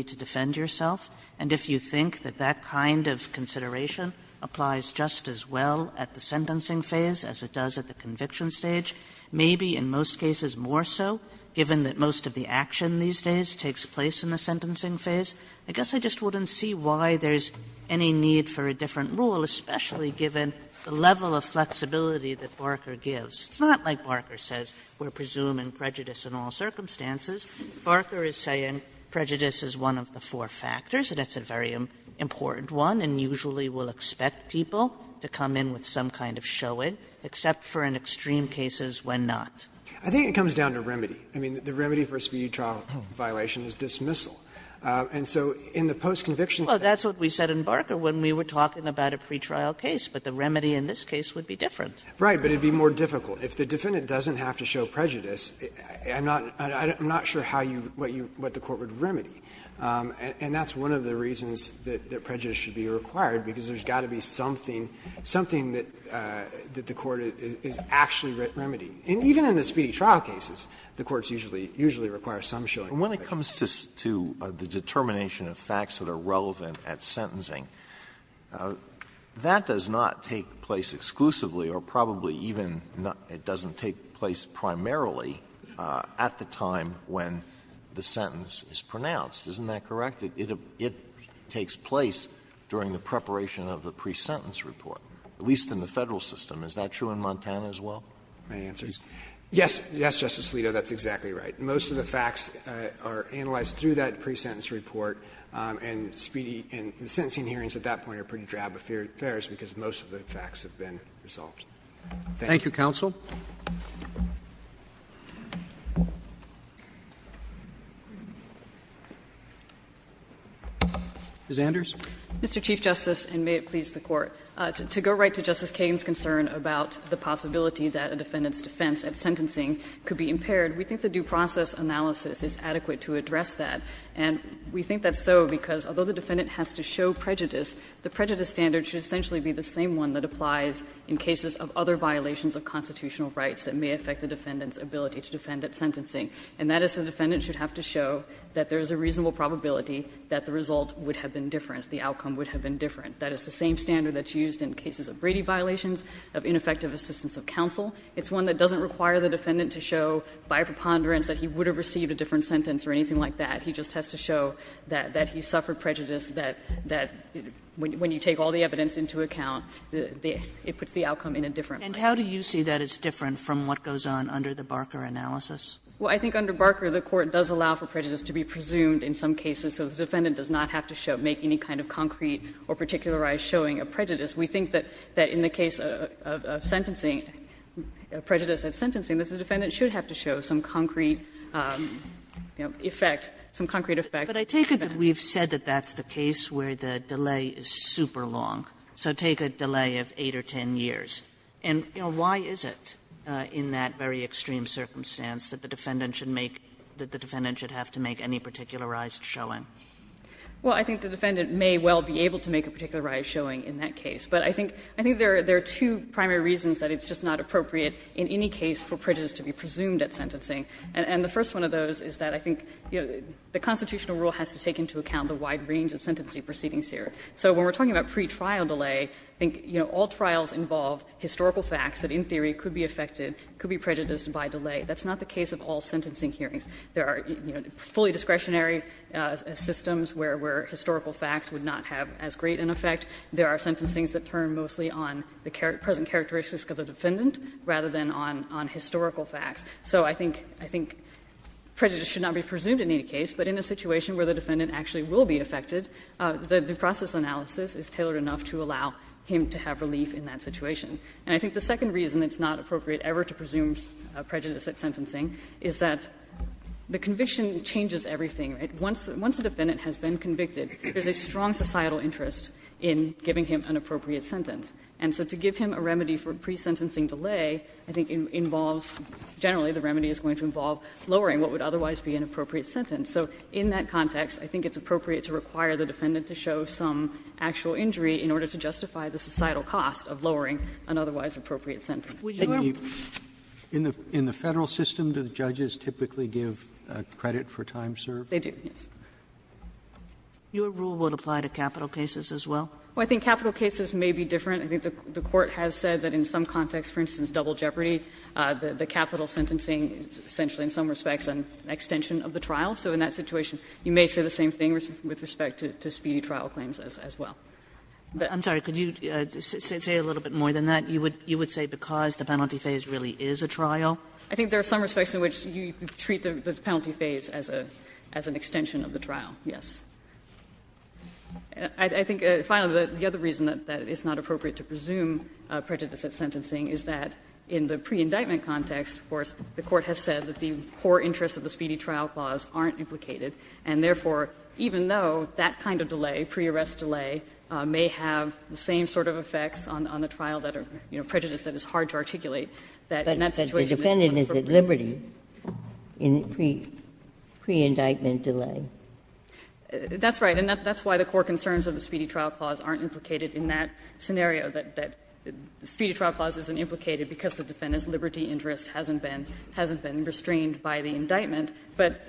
it does at the conviction stage, maybe in most cases more so, given that most of the action these days takes place in the sentencing phase, I guess I just wouldn't see why there's any need for a different rule, especially given the level of flexibility that Barker gives. It's not like Barker says we're presuming prejudice in all circumstances. Barker is saying prejudice is one of the four factors, and it's a very important one, and usually will expect people to come in with some kind of showing, except for in extreme cases when not. I think it comes down to remedy. I mean, the remedy for a speedy trial violation is dismissal. And so in the post-conviction stage that's what we said in Barker when we were talking about a pretrial case, but the remedy in this case would be different. Right, but it would be more difficult. If the defendant doesn't have to show prejudice, I'm not sure how you what the court would remedy. And that's one of the reasons that prejudice should be required, because there's got to be something, something that the court is actually remedying. And even in the speedy trial cases, the courts usually require some showing. Alitoso, and when it comes to the determination of facts that are relevant at sentencing, that does not take place exclusively or probably even it doesn't take place primarily at the time when the sentence is pronounced. Isn't that correct? It takes place during the preparation of the pre-sentence report, at least in the Federal system. Is that true in Montana as well? Verrilli, Yes. Yes, Justice Alito, that's exactly right. Most of the facts are analyzed through that pre-sentence report, and speedy and sentencing hearings at that point are pretty drab affairs because most of the facts have been resolved. Thank you. Roberts. Thank you, counsel. Ms. Anders. Mr. Chief Justice, and may it please the Court. To go right to Justice Kagan's concern about the possibility that a defendant's defense at sentencing could be impaired, we think the due process analysis is adequate to address that. And we think that's so because although the defendant has to show prejudice, the prejudice standard should essentially be the same one that applies in cases of other violations of constitutional rights that may affect the defendant's ability to defend at sentencing. And that is the defendant should have to show that there is a reasonable probability that the result would have been different, the outcome would have been different. That is the same standard that's used in cases of Brady violations, of ineffective assistance of counsel. It's one that doesn't require the defendant to show by preponderance that he would have received a different sentence or anything like that. He just has to show that he suffered prejudice, that when you take all the evidence into account, it puts the outcome in a different way. Kagan. And how do you see that it's different from what goes on under the Barker analysis? Well, I think under Barker, the Court does allow for prejudice to be presumed in some cases, so the defendant does not have to show, make any kind of concrete or particularized showing of prejudice. We think that in the case of sentencing, prejudice at sentencing, that the defendant should have to show some concrete effect, some concrete effect. But I take it that we've said that that's the case where the delay is super long, so take a delay of 8 or 10 years. And, you know, why is it in that very extreme circumstance that the defendant should make, that the defendant should have to make any particularized showing? Well, I think the defendant may well be able to make a particularized showing in that case. But I think there are two primary reasons that it's just not appropriate in any case for prejudice to be presumed at sentencing, and the first one of those is that I think the constitutional rule has to take into account the wide range of sentencing proceedings here. So when we're talking about pretrial delay, I think, you know, all trials involve historical facts that in theory could be affected, could be prejudiced by delay. That's not the case of all sentencing hearings. There are, you know, fully discretionary systems where historical facts would not have as great an effect. There are sentencings that turn mostly on the present characteristics of the defendant rather than on historical facts. So I think prejudice should not be presumed in any case, but in a situation where the defendant actually will be affected, the process analysis is tailored enough to allow him to have relief in that situation. And I think the second reason it's not appropriate ever to presume prejudice at sentencing is that the conviction changes everything, right? Once a defendant has been convicted, there's a strong societal interest in giving him an appropriate sentence. And so to give him a remedy for pre-sentencing delay, I think, involves generally the remedy is going to involve lowering what would otherwise be an appropriate sentence. So in that context, I think it's appropriate to require the defendant to show some actual injury in order to justify the societal cost of lowering an otherwise appropriate sentence. Sotomayor, in the Federal system, do the judges typically give credit for time served? They do, yes. Your rule would apply to capital cases as well? Well, I think capital cases may be different. I think the Court has said that in some contexts, for instance, double jeopardy, the capital sentencing is essentially, in some respects, an extension of the trial. So in that situation, you may say the same thing with respect to speedy trial claims as well. But I'm sorry, could you say a little bit more than that? You would say because the penalty phase really is a trial? I think there are some respects in which you treat the penalty phase as a as an extension of the trial, yes. I think, finally, the other reason that it's not appropriate to presume prejudice at sentencing is that in the pre-indictment context, of course, the Court has said that the core interests of the speedy trial clause aren't implicated, and therefore, even though that kind of delay, pre-arrest delay, may have the same sort of effects on the trial that are, you know, prejudice that is hard to articulate, that in that situation it's not appropriate. But the defendant is at liberty in pre-indictment delay. That's right. And that's why the core concerns of the speedy trial clause aren't implicated in that scenario, that the speedy trial clause isn't implicated because the defendant's liberty interest hasn't been restrained by the indictment. But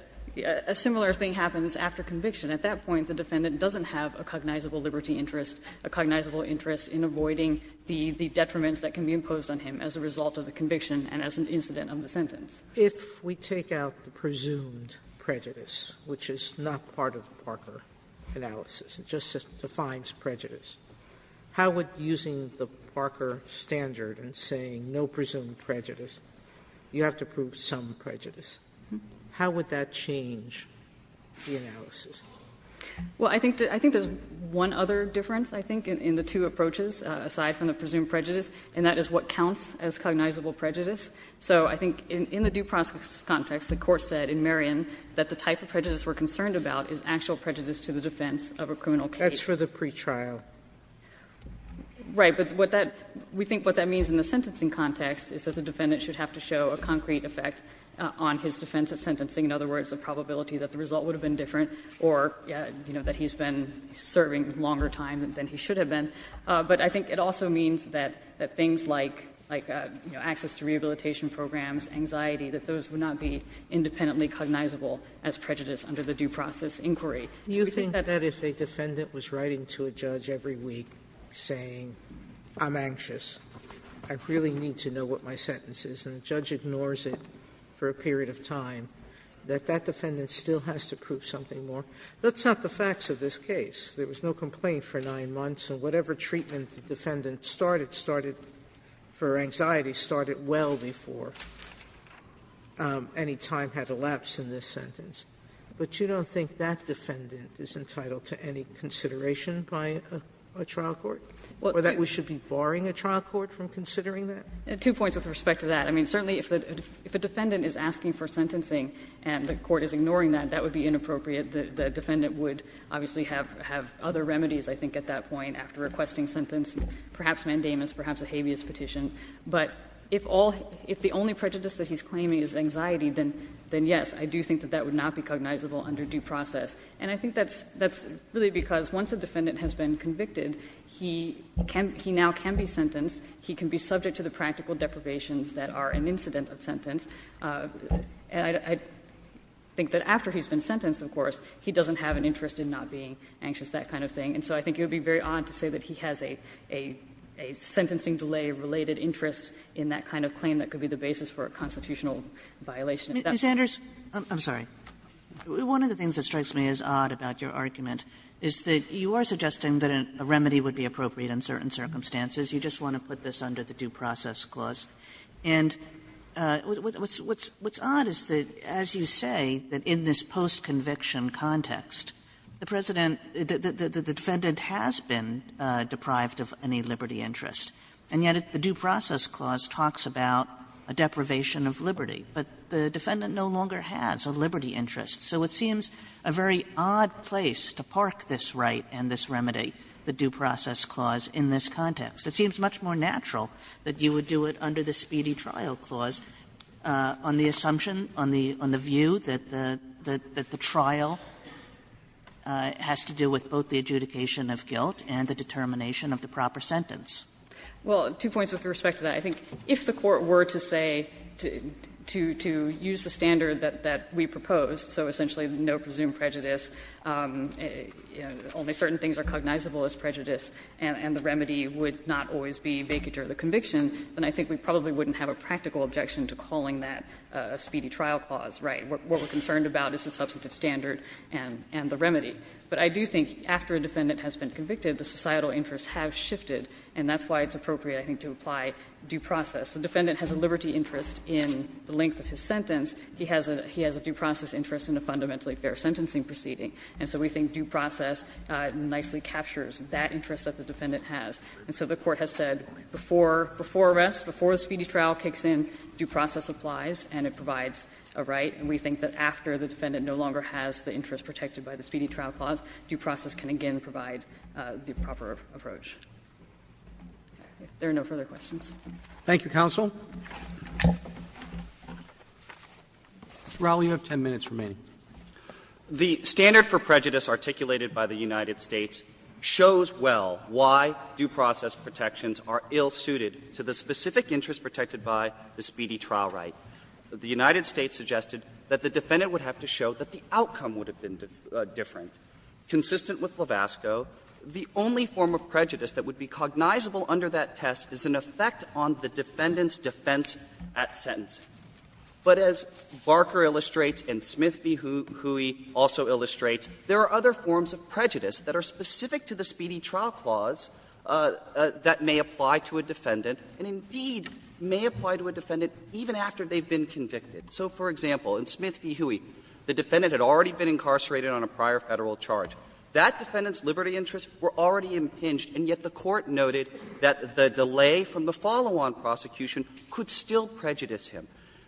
a similar thing happens after conviction. At that point, the defendant doesn't have a cognizable liberty interest, a cognizable interest in avoiding the detriments that can be imposed on him as a result of the conviction and as an incident of the sentence. Sotomayor, if we take out the presumed prejudice, which is not part of the Parker analysis, it just defines prejudice, how would using the Parker standard and saying no presumed prejudice, you have to prove some prejudice, how would that change the analysis? Well, I think there's one other difference, I think, in the two approaches, aside from the presumed prejudice, and that is what counts as cognizable prejudice. So I think in the due process context, the Court said in Merion that the type of prejudice we're concerned about is actual prejudice to the defense of a criminal case. Sotomayor, that's for the pretrial. Right. But what that we think what that means in the sentencing context is that the defendant should have to show a concrete effect on his defense at sentencing, in other words, the probability that the result would have been different or, you know, that he's been serving longer time than he should have been. But I think it also means that things like, you know, access to rehabilitation programs, anxiety, that those would not be independently cognizable as prejudice under the due process inquiry. Sotomayor, do you think that if a defendant was writing to a judge every week saying, I'm anxious, I really need to know what my sentence is, and the judge ignores it for a period of time, that that defendant still has to prove something more? That's not the facts of this case. There was no complaint for 9 months, and whatever treatment the defendant started for anxiety started well before any time had elapsed in this sentence. But you don't think that defendant is entitled to any consideration by a trial court, or that we should be barring a trial court from considering that? Two points with respect to that. I mean, certainly if a defendant is asking for sentencing and the court is ignoring that, that would be inappropriate. The defendant would obviously have other remedies, I think, at that point after requesting sentence, perhaps mandamus, perhaps a habeas petition. But if all the only prejudice that he's claiming is anxiety, then yes, I do think that that would not be cognizable under due process. And I think that's really because once a defendant has been convicted, he can be now can be sentenced, he can be subject to the practical deprivations that are an incident of sentence, and I think that after he's been sentenced, of course, he doesn't have an interest in not being anxious, that kind of thing. And so I think it would be very odd to say that he has a sentencing delay-related interest in that kind of claim that could be the basis for a constitutional violation. Kagan. Kagan. I'm sorry. One of the things that strikes me as odd about your argument is that you are suggesting that a remedy would be appropriate in certain circumstances. You just want to put this under the due process clause. And what's odd is that, as you say, that in this post-conviction context, the President the defendant has been deprived of any liberty interest, and yet the due process clause talks about a deprivation of liberty. But the defendant no longer has a liberty interest. So it seems a very odd place to park this right and this remedy, the due process clause, in this context. It seems much more natural that you would do it under the speedy trial clause on the assumption, on the view that the trial has to do with both the adjudication of guilt and the determination of the proper sentence. Well, two points with respect to that. I think if the Court were to say, to use the standard that we proposed, so essentially no presumed prejudice, only certain things are cognizable as prejudice, and the remedy would not always be vacated under the conviction, then I think we probably wouldn't have a practical objection to calling that a speedy trial clause right. What we are concerned about is the substantive standard and the remedy. But I do think after a defendant has been convicted, the societal interests have shifted, and that's why it's appropriate, I think, to apply due process. The defendant has a liberty interest in the length of his sentence. He has a due process interest in a fundamentally fair sentencing proceeding. And so we think due process nicely captures that interest that the defendant has. And so the Court has said before arrest, before a speedy trial kicks in, due process applies and it provides a right. Thank you, Your Honor. There are no further questions. Roberts. Thank you, counsel. Raul, you have 10 minutes remaining. The standard for prejudice articulated by the United States shows well why due process protections are ill-suited to the specific interest protected by the speedy trial right. The United States suggested that the defendant would have to show that the outcome would have been different. Consistent with Lavasco, the only form of prejudice that would be cognizable under that test is an effect on the defendant's defense at sentencing. But as Barker illustrates and Smith v. Huey also illustrates, there are other forms of prejudice that are specific to the speedy trial clause that may apply to a defendant and, indeed, may apply to a defendant even after they've been convicted. So, for example, in Smith v. Huey, the defendant had already been incarcerated on a prior Federal charge. That defendant's liberty interests were already impinged, and yet the Court noted that the delay from the follow-on prosecution could still prejudice him.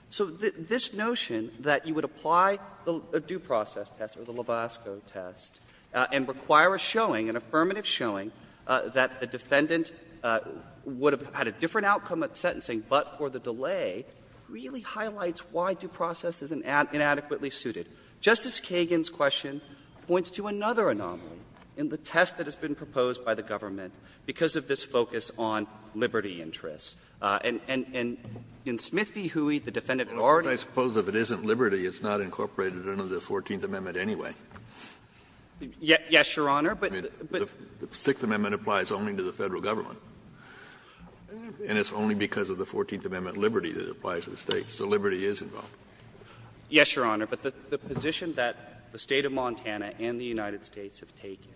So this notion that you would apply a due process test or the Lavasco test and require a showing, an affirmative showing, that the defendant would have had a different outcome at sentencing but for the delay really highlights why due process is inadequately suited. Justice Kagan's question points to another anomaly in the test that has been proposed by the government because of this focus on liberty interests. And in Smith v. Huey, the defendant already was. Kennedy, I suppose if it isn't liberty, it's not incorporated under the Fourteenth Amendment anyway. Yes, Your Honor, but. The Sixth Amendment applies only to the Federal government, and it's only because of the Fourteenth Amendment liberty that applies to the States. So liberty is involved. Yes, Your Honor, but the position that the State of Montana and the United States have taken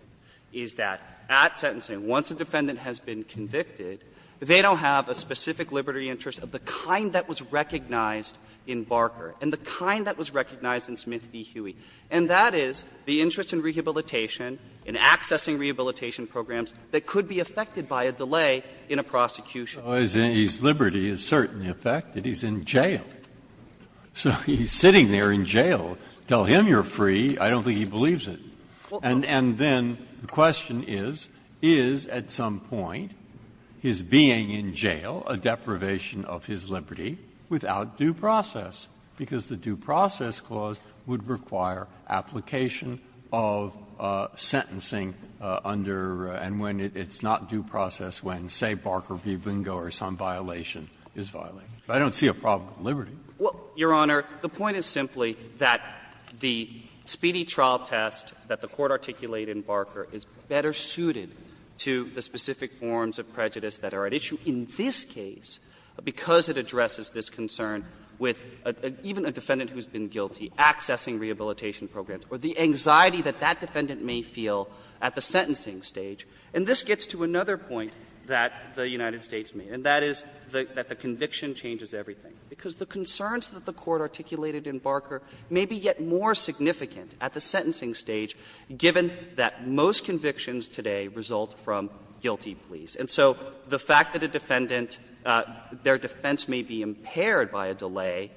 is that at sentencing, once a defendant has been convicted, they don't have a specific liberty interest of the kind that was recognized in Barker and the kind that was recognized in Smith v. Huey. And that is the interest in rehabilitation, in accessing rehabilitation programs that could be affected by a delay in a prosecution. Breyer. So is liberty a certain effect that he's in jail? So he's sitting there in jail, tell him you're free, I don't think he believes it. And then the question is, is at some point his being in jail a deprivation of his liberty without due process? Because the due process clause would require application of sentencing under and when it's not due process when, say, Barker v. Bingo or some violation is violated. But I don't see a problem with liberty. Well, Your Honor, the point is simply that the speedy trial test that the Court articulated in Barker is better suited to the specific forms of prejudice that are at issue in this case, because it addresses this concern with even a defendant who's been guilty, accessing rehabilitation programs, or the anxiety that that defendant may feel at the sentencing stage. And this gets to another point that the United States made, and that is that the conviction changes everything. Because the concerns that the Court articulated in Barker may be yet more significant at the sentencing stage, given that most convictions today result from guilty pleas. And so the fact that a defendant, their defense may be impaired by a delay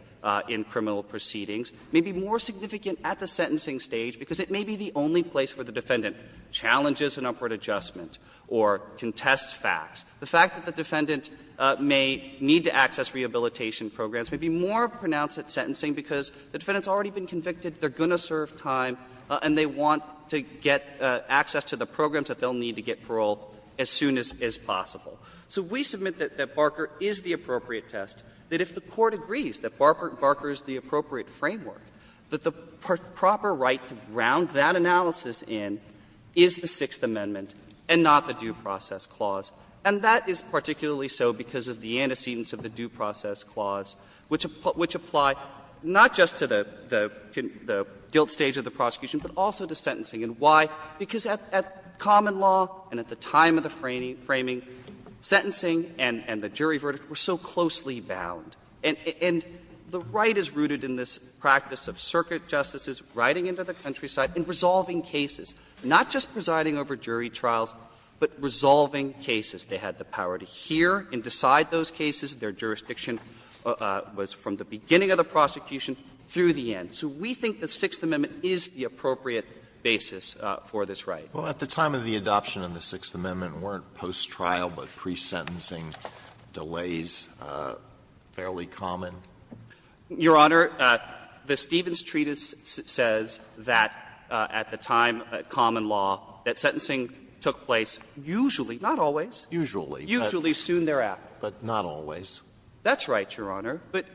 in criminal proceedings may be more significant at the sentencing stage, because it may be the only place where the defendant challenges an upward adjustment or contests facts. The fact that the defendant may need to access rehabilitation programs may be more pronounced at sentencing, because the defendant's already been convicted, they're going to serve time, and they want to get access to the programs that they'll need to get parole as soon as possible. So we submit that Barker is the appropriate test, that if the Court agrees that Barker is the appropriate framework, that the proper right to ground that analysis in is the Sixth Amendment and not the Due Process Clause. And that is particularly so because of the antecedents of the Due Process Clause, which apply not just to the guilt stage of the prosecution, but also to sentencing. And why? Because at common law and at the time of the framing, sentencing and the jury verdict were so closely bound. And the right is rooted in this practice of circuit justices riding into the countryside and resolving cases, not just presiding over jury trials, but resolving cases. They had the power to hear and decide those cases. Their jurisdiction was from the beginning of the prosecution through the end. So we think the Sixth Amendment is the appropriate basis for this right. Alito, at the time of the adoption of the Sixth Amendment, weren't post-trial but pre-sentencing delays fairly common? Your Honor, the Stevens Treatise says that at the time, at common law, that sentencing took place usually, not always, usually soon thereafter. Usually, but not always. That's right, Your Honor. But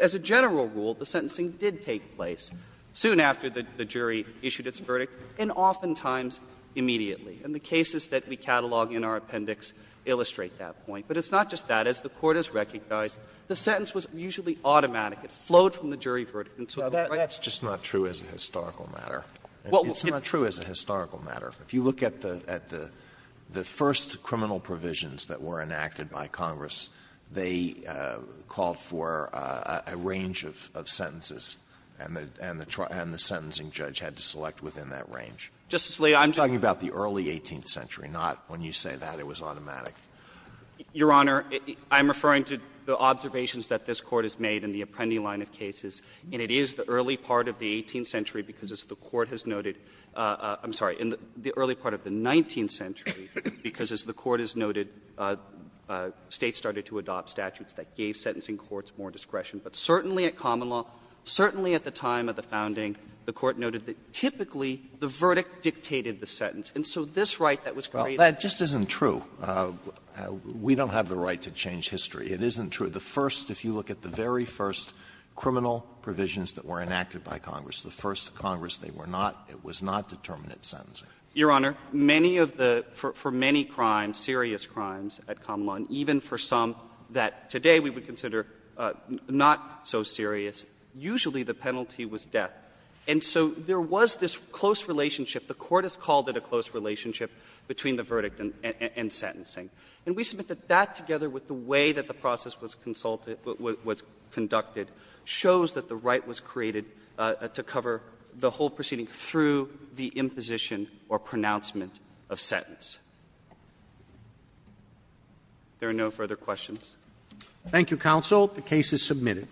as a general rule, the sentencing did take place soon after the jury issued its verdict and oftentimes immediately. And the cases that we catalog in our appendix illustrate that point. But it's not just that. As the Court has recognized, the sentence was usually automatic. It flowed from the jury verdict. Alito, that's just not true as a historical matter. It's not true as a historical matter. If you look at the first criminal provisions that were enacted by Congress, they called for a range of sentences, and the sentencing judge had to select within that range. Justice Alito, I'm just saying that. I'm talking about the early 18th century, not when you say that it was automatic. Your Honor, I'm referring to the observations that this Court has made in the Apprendi line of cases, and it is the early part of the 18th century because, as the Court has noted — I'm sorry, in the early part of the 19th century, because, as the Court has noted, States started to adopt statutes that gave sentencing courts more discretion. But certainly at common law, certainly at the time of the founding, the Court noted that typically the verdict dictated the sentence. Alito, we don't have the right to change history. It isn't true. The first — if you look at the very first criminal provisions that were enacted by Congress, the first Congress, they were not — it was not determinate sentencing. Your Honor, many of the — for many crimes, serious crimes at common law, and even for some that today we would consider not so serious, usually the penalty was death. And so there was this close relationship. The Court has called it a close relationship between the verdict and sentencing. And we submit that that, together with the way that the process was consulted — was conducted, shows that the right was created to cover the whole proceeding through the imposition or pronouncement of sentence. If there are no further questions. Roberts. Thank you, counsel. The case is submitted.